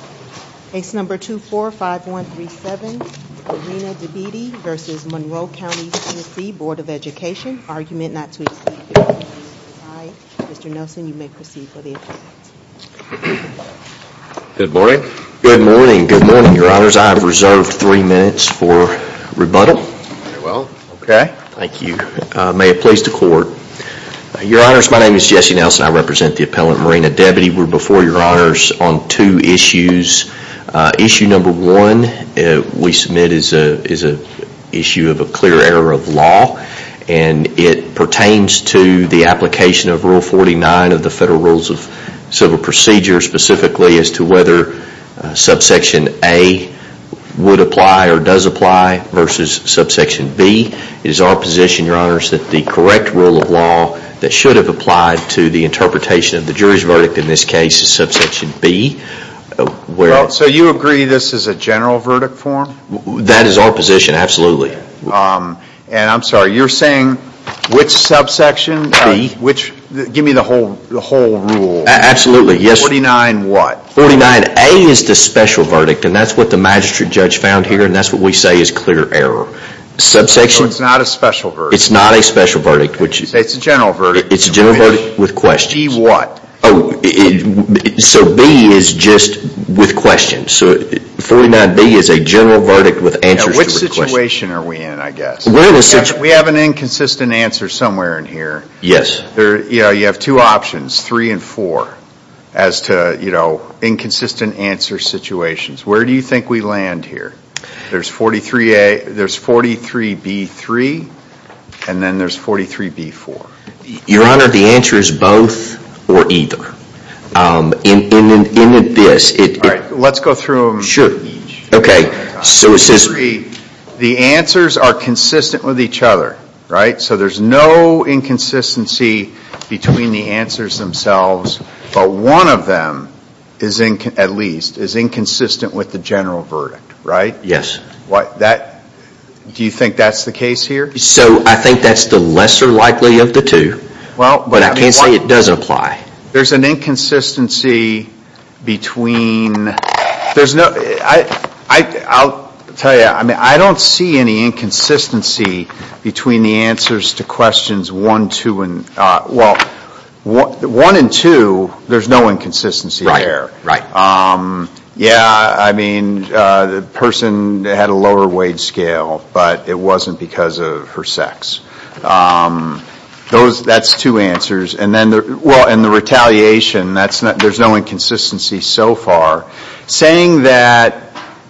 argument not to Mr. Nelson, you may proceed. Good morning. Good morning. Good morning. Your honors, I have reserved three minutes for rebuttal. Well, okay. Thank you. May it please the court. Your honors, my name is Jesse Nelson. I represent the appellant Marina Debity. We're before your honors on two issues. Issue number one we submit is a is a issue of a clear error of law and it pertains to the application of Rule 49 of the Federal Rules of Civil Procedure specifically as to whether subsection A would apply or does apply versus subsection B. It is our position, your honors, that the correct rule of law that should have applied to the interpretation of the jury's verdict in this case is subsection B. Well, so you agree this is a general verdict form? That is our position, absolutely. And I'm sorry, you're saying which subsection? B. Which? Give me the whole the whole rule. Absolutely. Yes. 49 what? 49A is the special verdict and that's what the magistrate judge found here and that's what we say is clear error. Subsection? So it's not a special verdict? It's not a special verdict. It's a general verdict with questions. B what? So B is just with questions. So 49B is a general verdict with answers to the question. Which situation are we in, I guess? We have an inconsistent answer somewhere in here. Yes. You have two options, three and four, as to, you know, inconsistent answer situations. Where do you think we land here? There's 43A, there's 43B3, and then there's 43B4. Your honor, the answer is both or either. In this, let's go through them. Sure. Okay, so it says the answers are consistent with each other, right? So there's no inconsistency between the answers themselves, but one of them is, at least, is inconsistent with the general verdict, right? Yes. What that, do you think that's the case here? So I think that's the lesser likely of the two. Well, but I can't say it doesn't apply. There's an inconsistency between, there's no, I'll tell you, I mean, I don't see any inconsistency between the answers to questions one, two, and, well, one and two, there's no inconsistency there. Right, right. Yeah, I mean, the person had a lower wage scale, but it wasn't because of her sex. Those, that's two answers, and then there, well, and the retaliation, that's not, there's no inconsistency so far. Saying that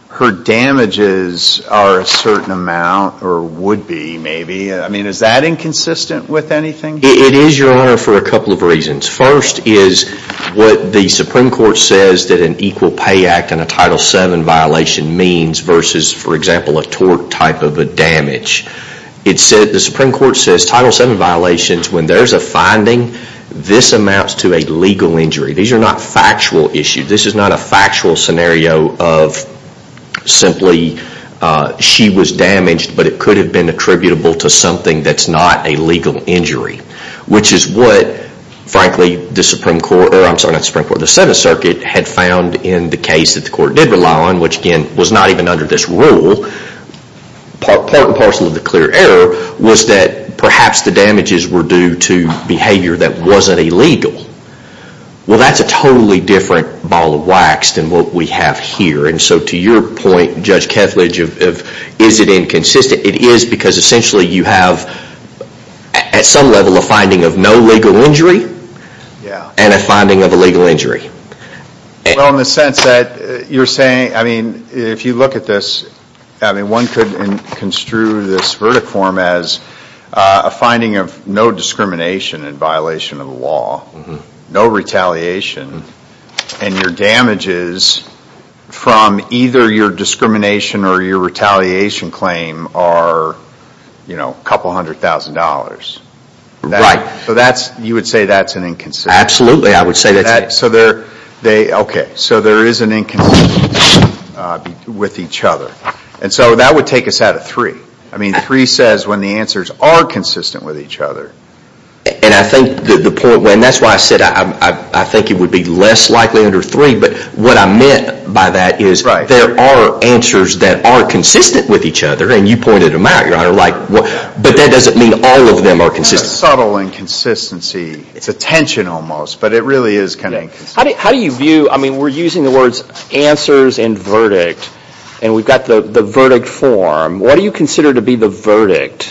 her damages are a certain amount or would be, maybe, I mean, is that inconsistent with anything? It is, your honor, for a couple of reasons. First is what the Supreme Court says that an Equal Pay Act and a Title VII violation means versus, for example, a tort type of a damage. It said, the Supreme Court says Title VII violations, when there's a finding, this amounts to a legal injury. These are not factual issues. This is not a factual scenario of simply she was damaged, but it could have been attributable to something that's not a legal injury, which is what, frankly, the Supreme Court, or I'm sorry, not the Supreme Court, the Seventh Circuit had found in the case that the court did rely on, which, again, was not even under this rule, part and parcel of the clear error, was that perhaps the damages were due to behavior that wasn't illegal. Well, that's a totally different ball of wax than what we have here, and so to your point, Judge Kethledge, of is it inconsistent? It is because, essentially, you have, at some level, a finding of no legal injury and a finding of a legal injury. If you look at this, one could construe this verdict form as a finding of no discrimination in violation of the law, no retaliation, and your damages from either your discrimination or your retaliation claim are a couple hundred thousand dollars. Right. You would say that's an inconsistency? Absolutely, I would say that. Okay, so there is an inconsistency with each other, and so that would take us out of three. I mean, three says when the answers are consistent with each other. And I think the point, and that's why I said I think it would be less likely under three, but what I meant by that is there are answers that are consistent with each other, and you pointed them out, Your Honor, but that doesn't mean all of them are consistent. It's a subtle inconsistency. It's a tension almost, but it really is kind of inconsistent. How do you view, I mean, we're using the words answers and verdict, and we've got the verdict form. What do you consider to be the verdict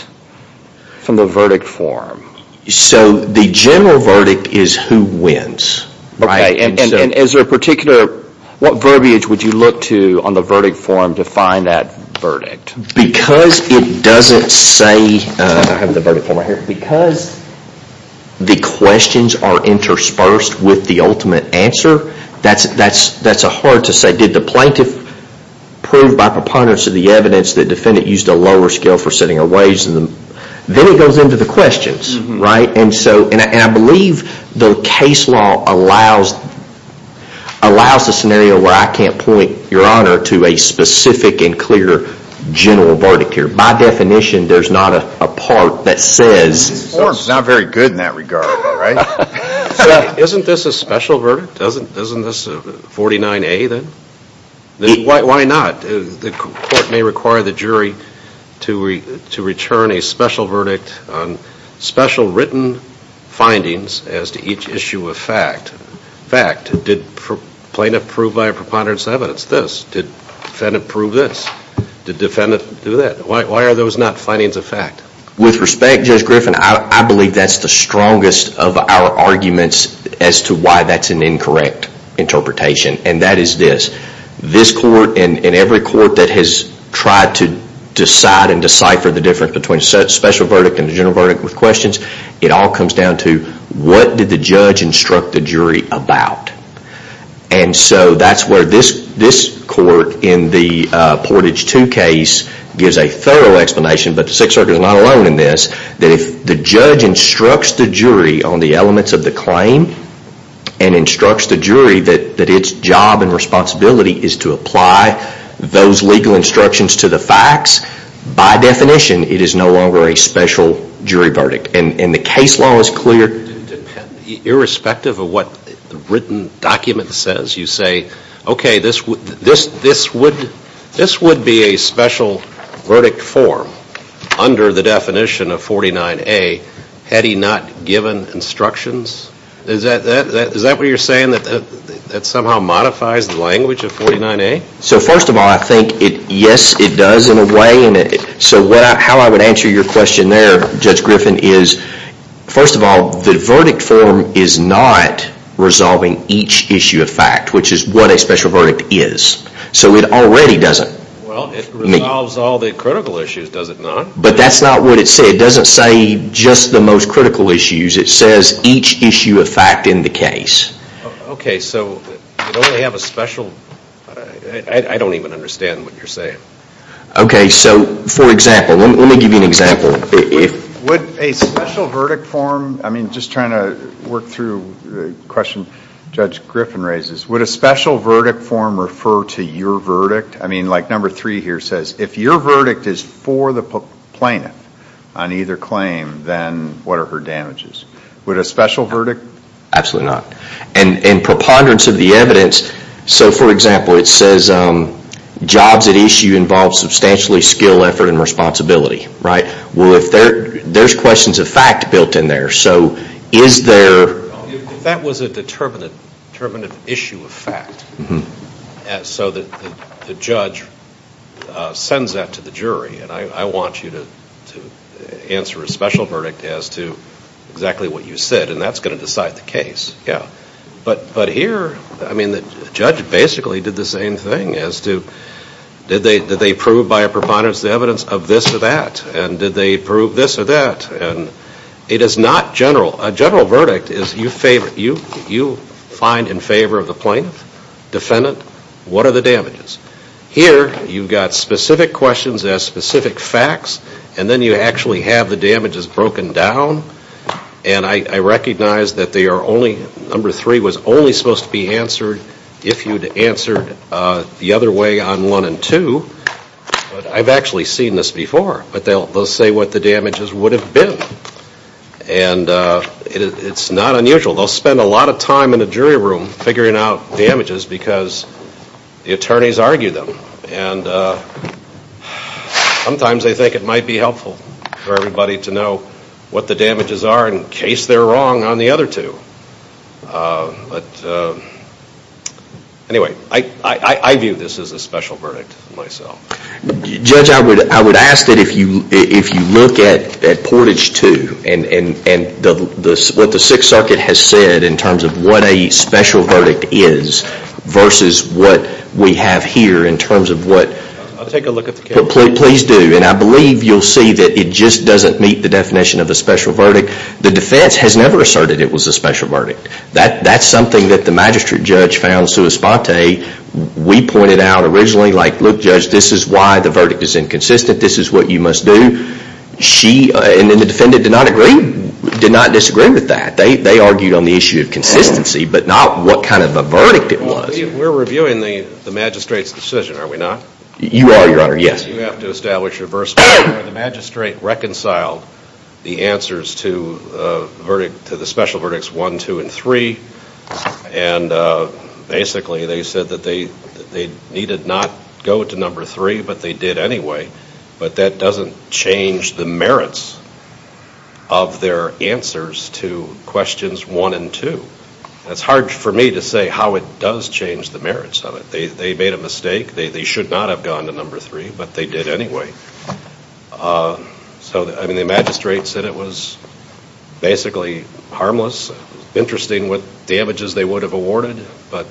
from the verdict form? So the general verdict is who wins. Okay, and is there a particular, what verbiage would you look to on the verdict form to find that verdict? Because it doesn't say, I have the verdict and the verdicts are interspersed with the ultimate answer. That's hard to say. Did the plaintiff prove by preponderance of the evidence that defendant used a lower scale for setting a wage? Then it goes into the questions, right? And I believe the case law allows a scenario where I can't point, Your Honor, to a specific and clear general verdict here. By definition, there's not a part that says. The form's not very good in that regard, all right? Isn't this a special verdict? Doesn't this 49A then? Why not? The court may require the jury to return a special verdict on special written findings as to each issue of fact. Fact, did plaintiff prove by a preponderance of evidence this? Did defendant prove this? Did defendant do that? Why are those not findings of fact? With respect, Judge Griffin, I believe that's the strongest of our arguments as to why that's an incorrect interpretation. And that is this. This court and every court that has tried to decide and decipher the difference between special verdict and the general verdict with questions, it all comes down to what did the judge instruct the jury about? And so that's where this court in the Portage 2 case gives a thorough explanation, but the Sixth Circuit is not alone in this, that if the judge instructs the jury on the elements of the claim and instructs the jury that its job and responsibility is to apply those legal instructions to the facts, by definition, it is no longer a special jury verdict. And the case law is clear. Irrespective of what the written document says, you say, okay, this would be a special verdict form under the definition of 49A, had he not given instructions? Is that what you're saying, that that somehow modifies the language of 49A? So first of all, I think, yes, it does in a way. So how I would answer your question there, Judge Griffin, is, first of all, the verdict form is not resolving each issue of fact, which is what a special verdict is. So it already doesn't. Well, it resolves all the critical issues, does it not? But that's not what it says. It doesn't say just the most critical issues. It says each issue of fact in the case. Okay, so you don't have a special, I don't even understand what you're saying. Okay, so for example, let me give you an example. Would a special verdict form, I mean, just trying to work through the question Judge Griffin raises, would a special verdict form refer to your verdict? I mean, like number three here says, if your verdict is for the plaintiff on either claim, then what are her damages? Would a special verdict? Absolutely not. And in preponderance of the evidence, so for example, it says jobs at issue involve substantially skill, effort, and responsibility, right? Well, if there's questions of fact built in there, so is there? If that was a determinative issue of fact, so the judge sends that to the jury, and I want you to answer a special verdict as to exactly what you said, and that's going to decide the case. But here, I mean, the judge basically did the same thing as to, did they prove by a preponderance of the evidence of this or that? And did they prove this or that? And it is not general. A general verdict is you find in favor of the plaintiff, defendant, what are the damages? Here, you've got specific questions that have specific facts, and then you actually have the damages broken down, and I recognize that they are only, number three was only supposed to be answered if you'd answered the other way on one and two, but I've actually seen this before. But they'll say what the damages would have been. And it's not unusual. They'll spend a lot of time in a jury room figuring out damages because the attorneys argue them. And sometimes they think it might be helpful for everybody to know what the damages are in case they're wrong on the other two. But anyway, I view this as a special verdict myself. Judge, I would ask that if you look at Portage 2 and what the Sixth Circuit has said in terms of what a special verdict is versus what we have here in terms of what, please do, and I believe you'll see that it just doesn't meet the definition of a special verdict. The defense has never asserted it was a special verdict. That's something that the magistrate judge found sua sponte. We pointed out originally, like, look, judge, this is why the verdict is inconsistent. This is what you must do. She, and then the defendant, did not agree, did not disagree with that. They argued on the issue of consistency, but not what kind of a verdict it was. We're reviewing the magistrate's decision, are we not? You are, your honor, yes. You have to establish reverse order where the magistrate reconciled the answers to the special verdicts 1, 2, and 3, and basically they said that they needed not go to number 3, but they did anyway, but that doesn't change the merits of their answers to questions 1 and 2. It's hard for me to say how it does change the merits of it. They made a mistake. They should not have gone to number 3, but they did anyway. So, I mean, the magistrate said it was basically harmless. Interesting what damages they would have awarded, but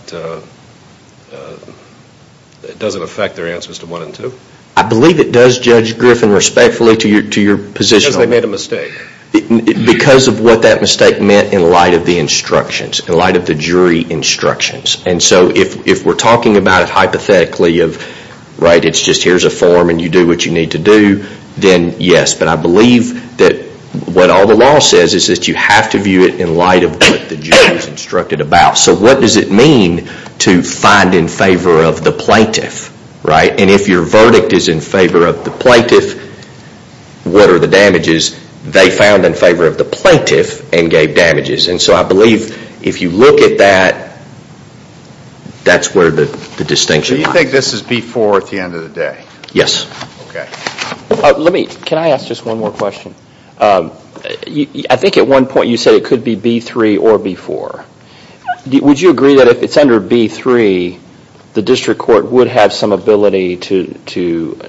it doesn't affect their answers to 1 and 2. I believe it does, Judge Griffin, respectfully, to your position. Because they made a mistake. Because of what that mistake meant in light of the instructions, in light of the jury instructions, and so if we're talking about hypothetically of, right, it's just here's a form and you do what you need to do, then yes. But I believe that what all the law says is that you have to view it in light of what the jury's instructed about. So what does it mean to find in favor of the plaintiff, right? And if your verdict is in favor of the plaintiff, what are the damages they found in favor of the plaintiff and gave damages? And so I believe if you look at that, that's where the distinction lies. So you think this is B4 at the end of the day? Yes. Okay. Let me, can I ask just one more question? I think at one point you said it could be B3 or B4. Would you agree that if it's under B3, the district court would have some ability to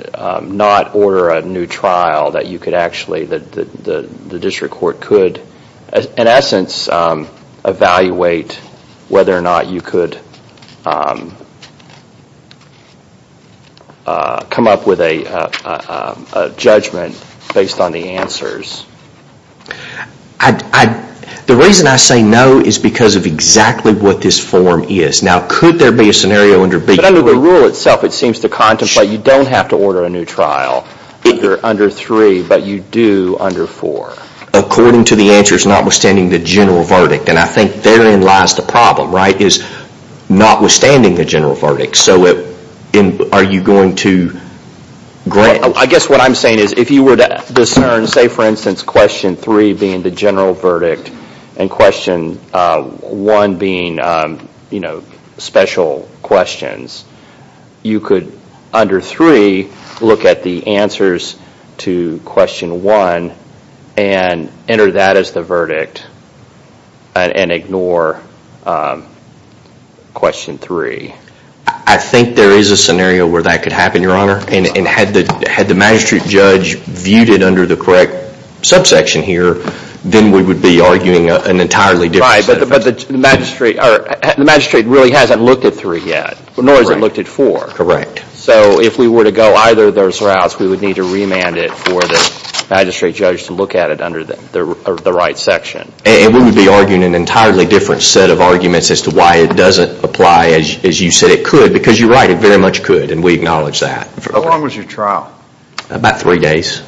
not order a new trial that you could actually, that the district court could, in essence, evaluate whether or not you could come up with a judgment based on the answers? The reason I say no is because of exactly what this form is. Now could there be a scenario under B3? But under the rule itself it seems to contemplate you don't have to order a new trial if you're under 3, but you do under 4. According to the answers, notwithstanding the general verdict. And I think therein lies the problem, right? Is notwithstanding the general verdict. So are you going to grant? I guess what I'm saying is if you were to discern, say for instance, question 3 being the general verdict and question 1 being special questions, you could under 3 look at the answers to question 1 and enter that as the verdict and ignore question 3. I think there is a scenario where that could happen, your honor. And had the magistrate judge viewed it under the correct subsection here, then we would be arguing an entirely different set of... Right, but the magistrate really hasn't looked at 3 yet, nor has it looked at 4. Correct. So if we were to go either of those routes, we would need to remand it for the magistrate judge to look at it under the right section. And we would be arguing an entirely different set of arguments as to why it doesn't apply as you said it could, because you're right, it very much could, and we acknowledge that. How long was your trial? About 3 days.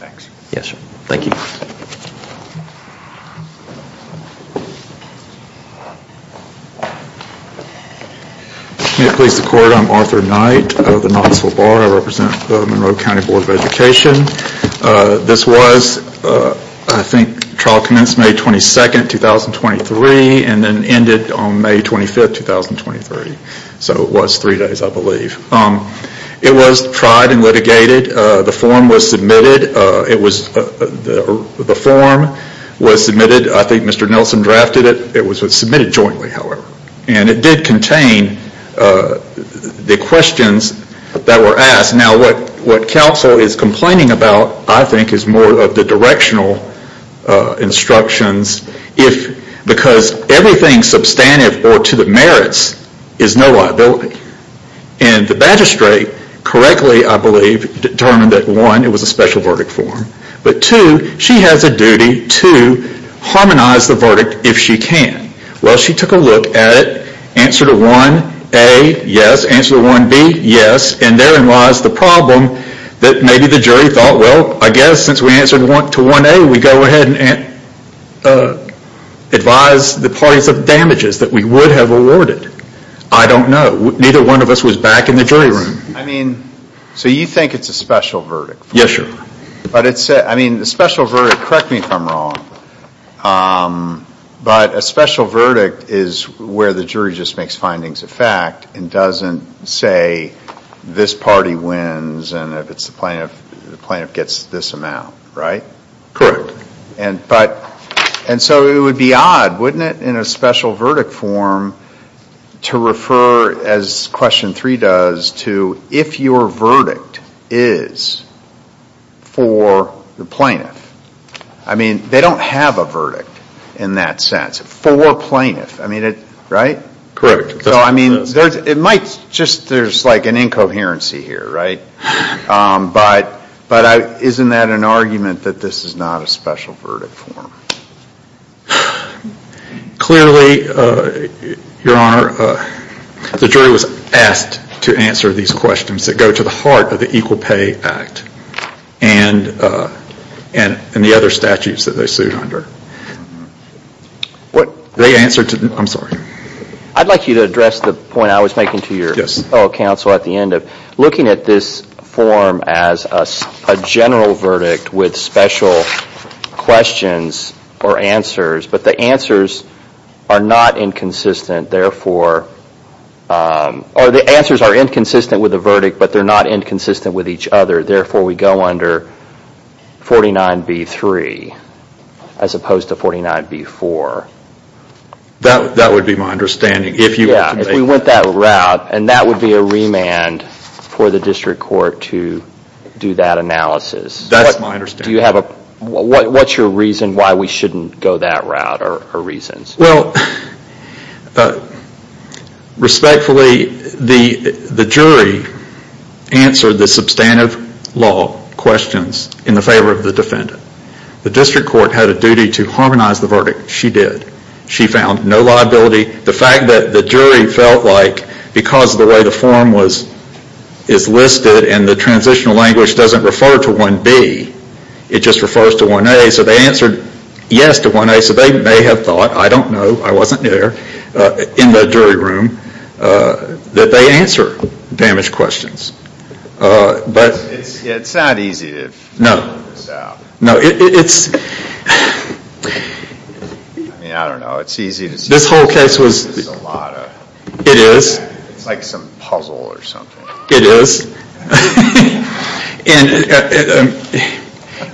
Thanks. Yes, sir. Thank you. May it please the court, I'm Arthur Knight of the Knoxville Bar. I represent the Monroe County Board of Education. This was, I think, trial commenced May 22, 2023 and then ended on May 25, 2023. So it was 3 days, I believe. It was tried and litigated. The form was submitted. I think Mr. Nelson drafted it. It was submitted jointly, however. And it did contain the questions that were asked. Now what counsel is complaining about, I think, is more of the directional instructions, because everything substantive or to the merits is no liability. And the magistrate correctly, I believe, determined that 1, it was a special verdict form, but 2, she has a duty to harmonize the verdict if she can. Well, she took a look at it, answered a 1A, yes. Answered a 1B, yes. And therein lies the problem that maybe the jury thought, well, I guess since we answered to 1A, we can go ahead and advise the parties of damages that we would have awarded. I don't know. Neither one of us was back in the jury room. I mean, so you think it's a special verdict form? Yes, sir. But it's a, I mean, a special verdict, correct me if I'm wrong, but a special verdict is where the jury just makes findings of fact and doesn't say this party wins and if it's the plaintiff, the plaintiff gets this amount, right? Correct. And so it would be odd, wouldn't it, in a special verdict form to refer, as question 3 does, to if your verdict is for the plaintiff. I mean, they don't have a verdict in that sense. For plaintiff. I mean, right? Correct. So, I mean, it might just, there's like an incoherency here, right? But isn't that an argument that this is not a special verdict form? Clearly, Your Honor, the jury was asked to answer these questions that go to the heart of the Equal Pay Act and the other statutes that they sued under. They answered, I'm sorry. I'd like you to address the point I was making to your fellow counsel at the end of looking at this form as a general verdict with special questions or answers, but the answers are not inconsistent therefore, or the answers are inconsistent with the verdict, but they're not inconsistent with each other. Therefore, we go under 49B3 as opposed to 49B4. That would be my understanding. Yeah, if we went that route, and that would be a remand for the district court to do that analysis. That's my understanding. What's your reason why we shouldn't go that route or reasons? Well, respectfully, the jury answered this substantive law questions in the favor of the defendant. The district court had a duty to harmonize the verdict. She did. She found no liability. The fact that the jury felt like because of the way the form is listed and the transitional language doesn't refer to 1B, it just refers to 1A, so they answered yes to 1A, so they may have thought, I don't know, I wasn't there, in that jury room, that they answer damaged questions. And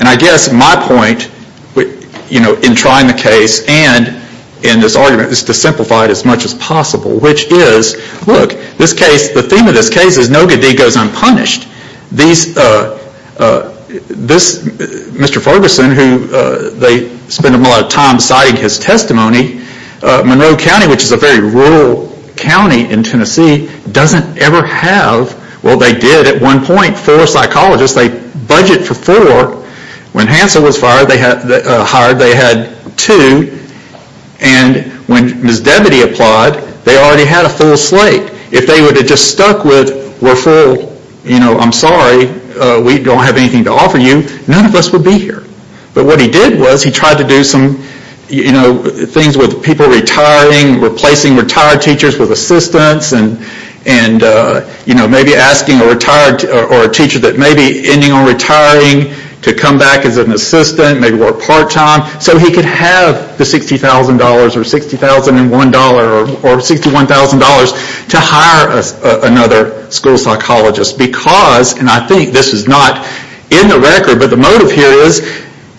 I guess my point in trying the case and in this argument is to simplify it as much as possible, which is, look, the theme of this case is no good deed goes unpunished. Mr. Ferguson, they spend a lot of time citing his testimony, Monroe County, which is a very rural county in Tennessee, doesn't ever have, well, they did at one point, four psychologists. They budget for four. When Hansel was hired, they had two. And when Ms. Debadee applied, they already had a full slate. If they would have just stuck with, we're full, I'm sorry, we don't have anything to offer you, none of us would be here. But what he did was he tried to do some things with people retiring, replacing retired teachers with assistants, and maybe asking a teacher that may be ending on retiring to come back as an assistant, maybe work part-time, so he could have the $60,000 or $60,001 or $61,000 to hire another school psychologist because, and I think this is not in the record, but the motive here is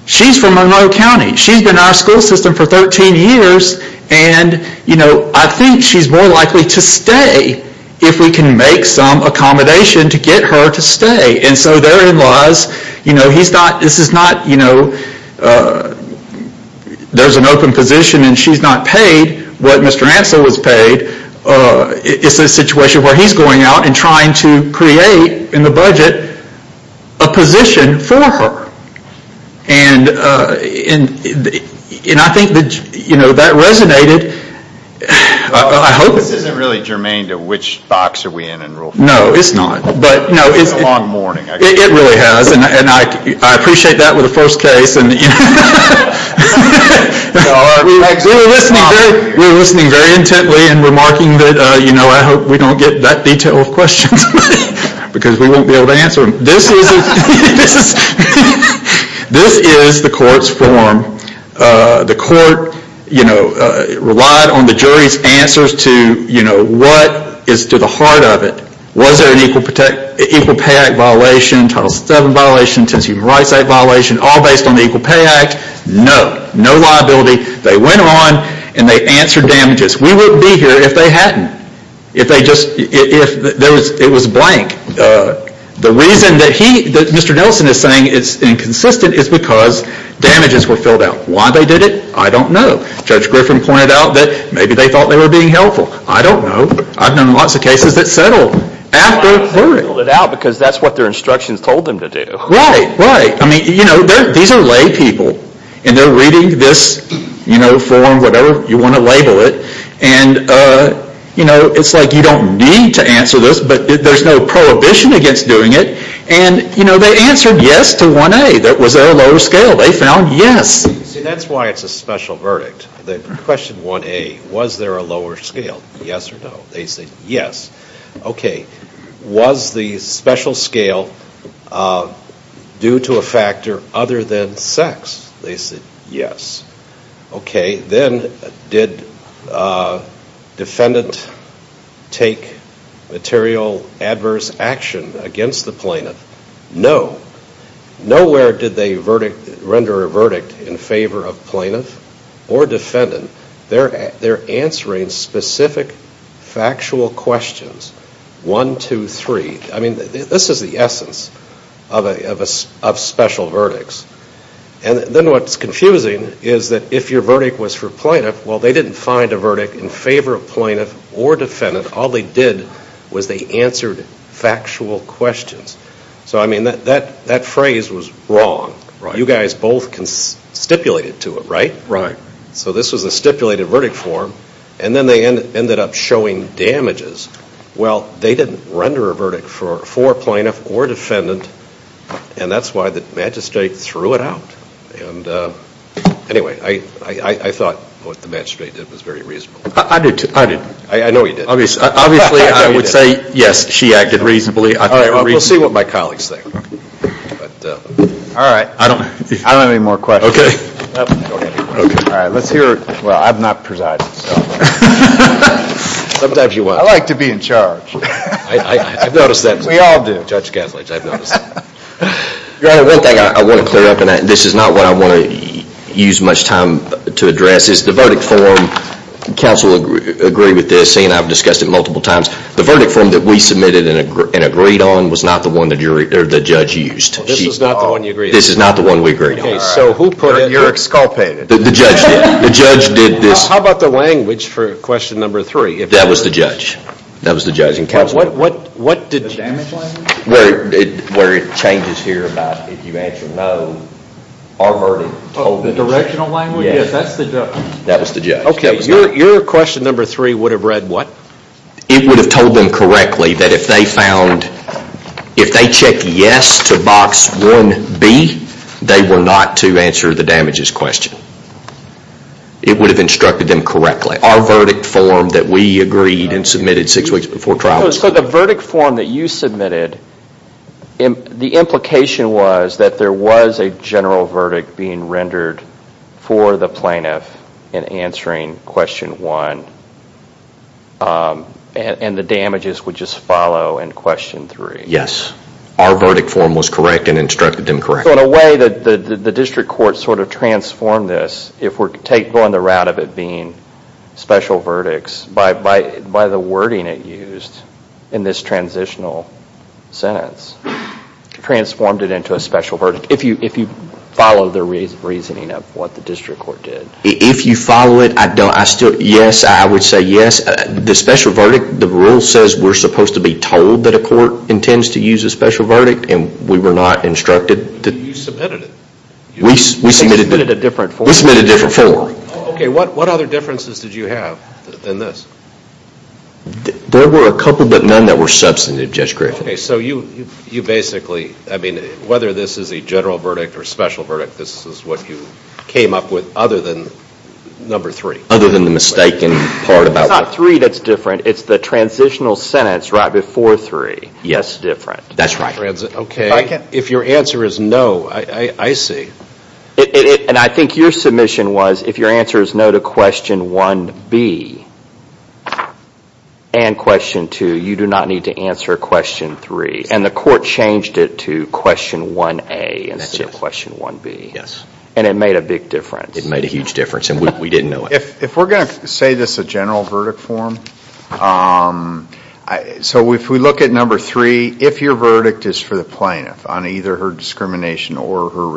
she's from Monroe County. She's been in our school system for 13 years, and I think she's more likely to stay if we can make some accommodation to get her to stay. And so their in-laws, this is not a there's an open position and she's not paid what Mr. Hansel was paid. It's a situation where he's going out and trying to create, in the budget, a position for her. And I think that resonated, I hope. This isn't really germane to which box are we in in Rule 4. No, it's not. It's a long morning. It really has, and I appreciate that with the first case. We were listening very intently and remarking that I hope we don't get that detailed questions, because we won't be able to answer them. This is the court's form. The court relied on the jury's answers to what is to the heart of it. Was there an Equal Pay Act violation, Title 7 violation, Tension of Human Rights Act violation, all based on the Equal Pay Act? No. No liability. They went on and they answered damages. We wouldn't be here if they hadn't. If they just, if it was blank. The reason that he, that Mr. Nelson is saying it's inconsistent is because damages were filled out. Why they did it? I don't know. Judge Griffin pointed out that maybe they thought they were being helpful. I don't know. I've known lots of cases that settled after clearing. They filled it out because that's what their instructions told them to do. Right, right. I mean, you know, these are lay people, and they're reading this, you know, form, whatever you want to label it. And, you know, it's like you don't need to answer this, but there's no prohibition against doing it. And, you know, they answered yes to 1A. That was their lower scale. They found yes. See, that's why it's a special verdict. The question 1A, was there a lower scale? Yes or no? They said yes. Okay. Was the special scale due to a factor other than sex? They said yes. Okay. Then did defendant take material adverse action against the plaintiff? No. Nowhere did they render a verdict in favor of plaintiff or defendant. They're answering specific factual questions. One, two, three. I mean, this is the essence of special verdicts. And then what's confusing is that if your verdict was for plaintiff, well, they didn't find a verdict in favor of plaintiff or defendant. All they did was they answered factual questions. So, I mean, that phrase was wrong. Right. You guys both stipulated to it, right? Right. So this was a stipulated verdict form. And then they ended up showing damages. Well, they didn't render a verdict for plaintiff or defendant. And that's why the magistrate threw it out. Anyway, I thought what the magistrate did was very reasonable. I did too. I did. Obviously, I would say yes, she acted reasonably. We'll see what my colleagues think. All right. I don't have any more questions. Okay. All right. Let's hear, well, I've not presided. Sometimes you will. I like to be in charge. I've noticed that. We all do. Judge Gaslage, I've noticed that. Your Honor, one thing I want to clear up, and this is not what I want to use much time to address, is the verdict form, counsel will agree with this, and I've discussed it multiple times, the verdict form that we submitted and agreed on was not the one that the judge used. This is not the one you agreed on? This is not the one we agreed on. Okay. So who put it? You're exculpated. The judge did. The judge did this. How about the language for question number three? That was the judge. That was the judge and counsel. But what did the damage language? Where it changes here about if you answer no, our verdict told me to change. The directional language? Yes. That's the judge. That was the judge. Okay. Your question number three would have read what? It would have told them correctly that if they found, if they checked yes to box 1B, they were not to answer the damages question. It would have instructed them correctly. Our verdict form that we agreed and submitted six weeks before the trial. So the verdict form that you submitted, the implication was that there was a general verdict being rendered for the plaintiff in answering question one, and the damages would just follow in question three. Yes. Our verdict form was correct and instructed them correctly. So in a way, the district court sort of transformed this, if we're going the route of it being special verdicts, by the wording it used in this transitional sentence, transformed it into a special verdict, if you follow the reasoning of what the district court did. If you follow it, yes, I would say yes. The special verdict, the rule says we're supposed to be told that a court intends to use a special verdict, and we were not instructed. You submitted it. We submitted a different form. We submitted a different form. Okay, what other differences did you have than this? There were a couple, but none that were substantive, Judge Griffin. Okay, so you basically, I mean, whether this is a general verdict or special verdict, this is what you came up with other than number three. Other than the mistaken part about one. It's not three that's different, it's the transitional sentence right before three. Yes, different. That's right. Okay, if your answer is no, I see. And I think your submission was, if your answer is no to question 1B and question 2, you do not need to answer question 3. And the court changed it to question 1A instead of question 1B. Yes. And it made a big difference. It made a huge difference, and we didn't know it. If we're going to say this is a general verdict form, so if we look at number three, if your verdict is for the plaintiff on either her discrimination or her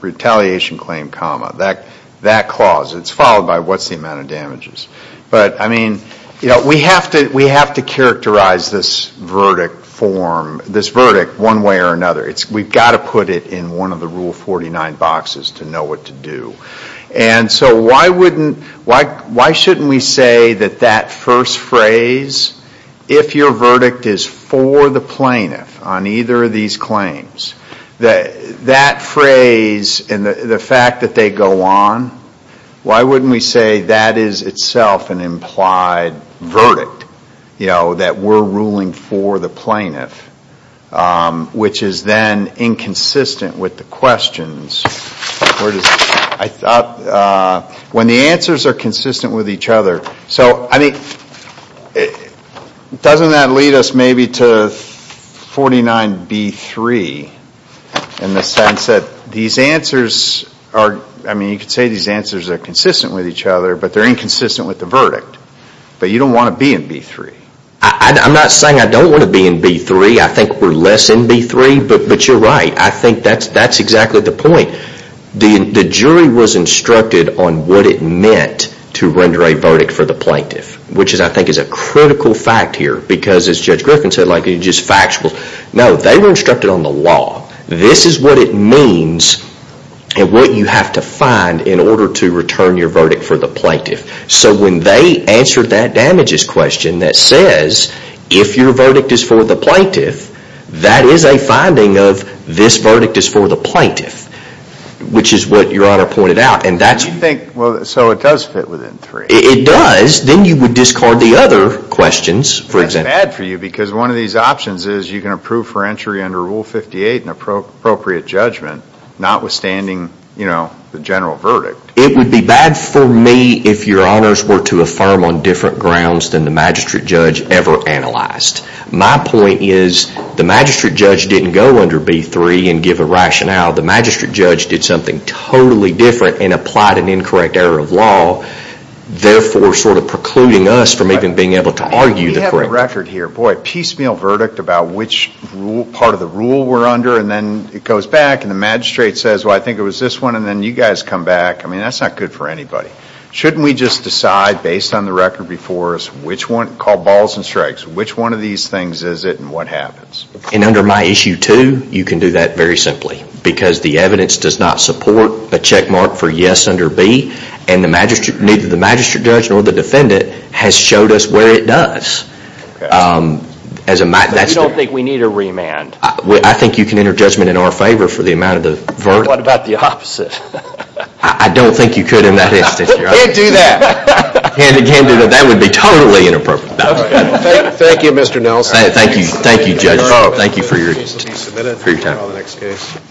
retaliation claim, that clause, it's followed by what's the amount of damages. But, I mean, we have to characterize this verdict form, this verdict, one way or another. We've got to put it in one of the Rule 49 boxes to know what to do. And so why shouldn't we say that that first phrase, if your verdict is for the plaintiff on either of these claims, that phrase and the fact that they go on, why wouldn't we say that is itself an implied verdict, that we're ruling for the plaintiff, which is then inconsistent with the questions. I thought when the answers are consistent with each other, so, I mean, doesn't that lead us maybe to 49B3 in the sense that these answers are, I mean, you could say these answers are consistent with each other, but they're inconsistent with the verdict. But you don't want to be in B3. I'm not saying I don't want to be in B3. I think we're less in B3, but you're right. I think that's exactly the point. The jury was instructed on what it meant to render a verdict for the plaintiff, which I think is a critical fact here because, as Judge Griffin said, like it's just factual. No, they were instructed on the law. This is what it means and what you have to find in order to return your verdict for the plaintiff. So when they answered that damages question that says, if your verdict is for the plaintiff, that is a finding of this verdict is for the plaintiff, which is what Your Honor pointed out, and that's... You think, well, so it does fit within three. It does. Then you would discard the other questions, for example. That's bad for you because one of these options is you can approve for entry under Rule 58 in appropriate judgment, notwithstanding, you know, the general verdict. It would be bad for me if Your Honors were to affirm on different grounds than the magistrate judge ever analyzed. My point is the magistrate judge didn't go under B3 and give a rationale. The magistrate judge did something totally different and applied an incorrect error of law, therefore sort of precluding us from even being able to argue the correct... We have a record here. Boy, piecemeal verdict about which part of the rule we're under, and then it goes back and the magistrate says, well, I think it was this one, and then you guys come back. I mean, that's not good for anybody. Shouldn't we just decide based on the record before us which one, call balls and strikes, which one of these things is it and what happens? And under my Issue 2, you can do that very simply because the evidence does not support a checkmark for yes under B, and neither the magistrate judge nor the defendant has showed us where it does. As a matter... But you don't think we need a remand? I think you can enter judgment in our favor for the amount of the verdict. What about the opposite? I don't think you could in that instance, Your Honor. You can't do that. You can't do that. That would be totally inappropriate. Thank you, Mr. Nelson. Thank you. Thank you, judges. Thank you for your time. Please submit it for our next case.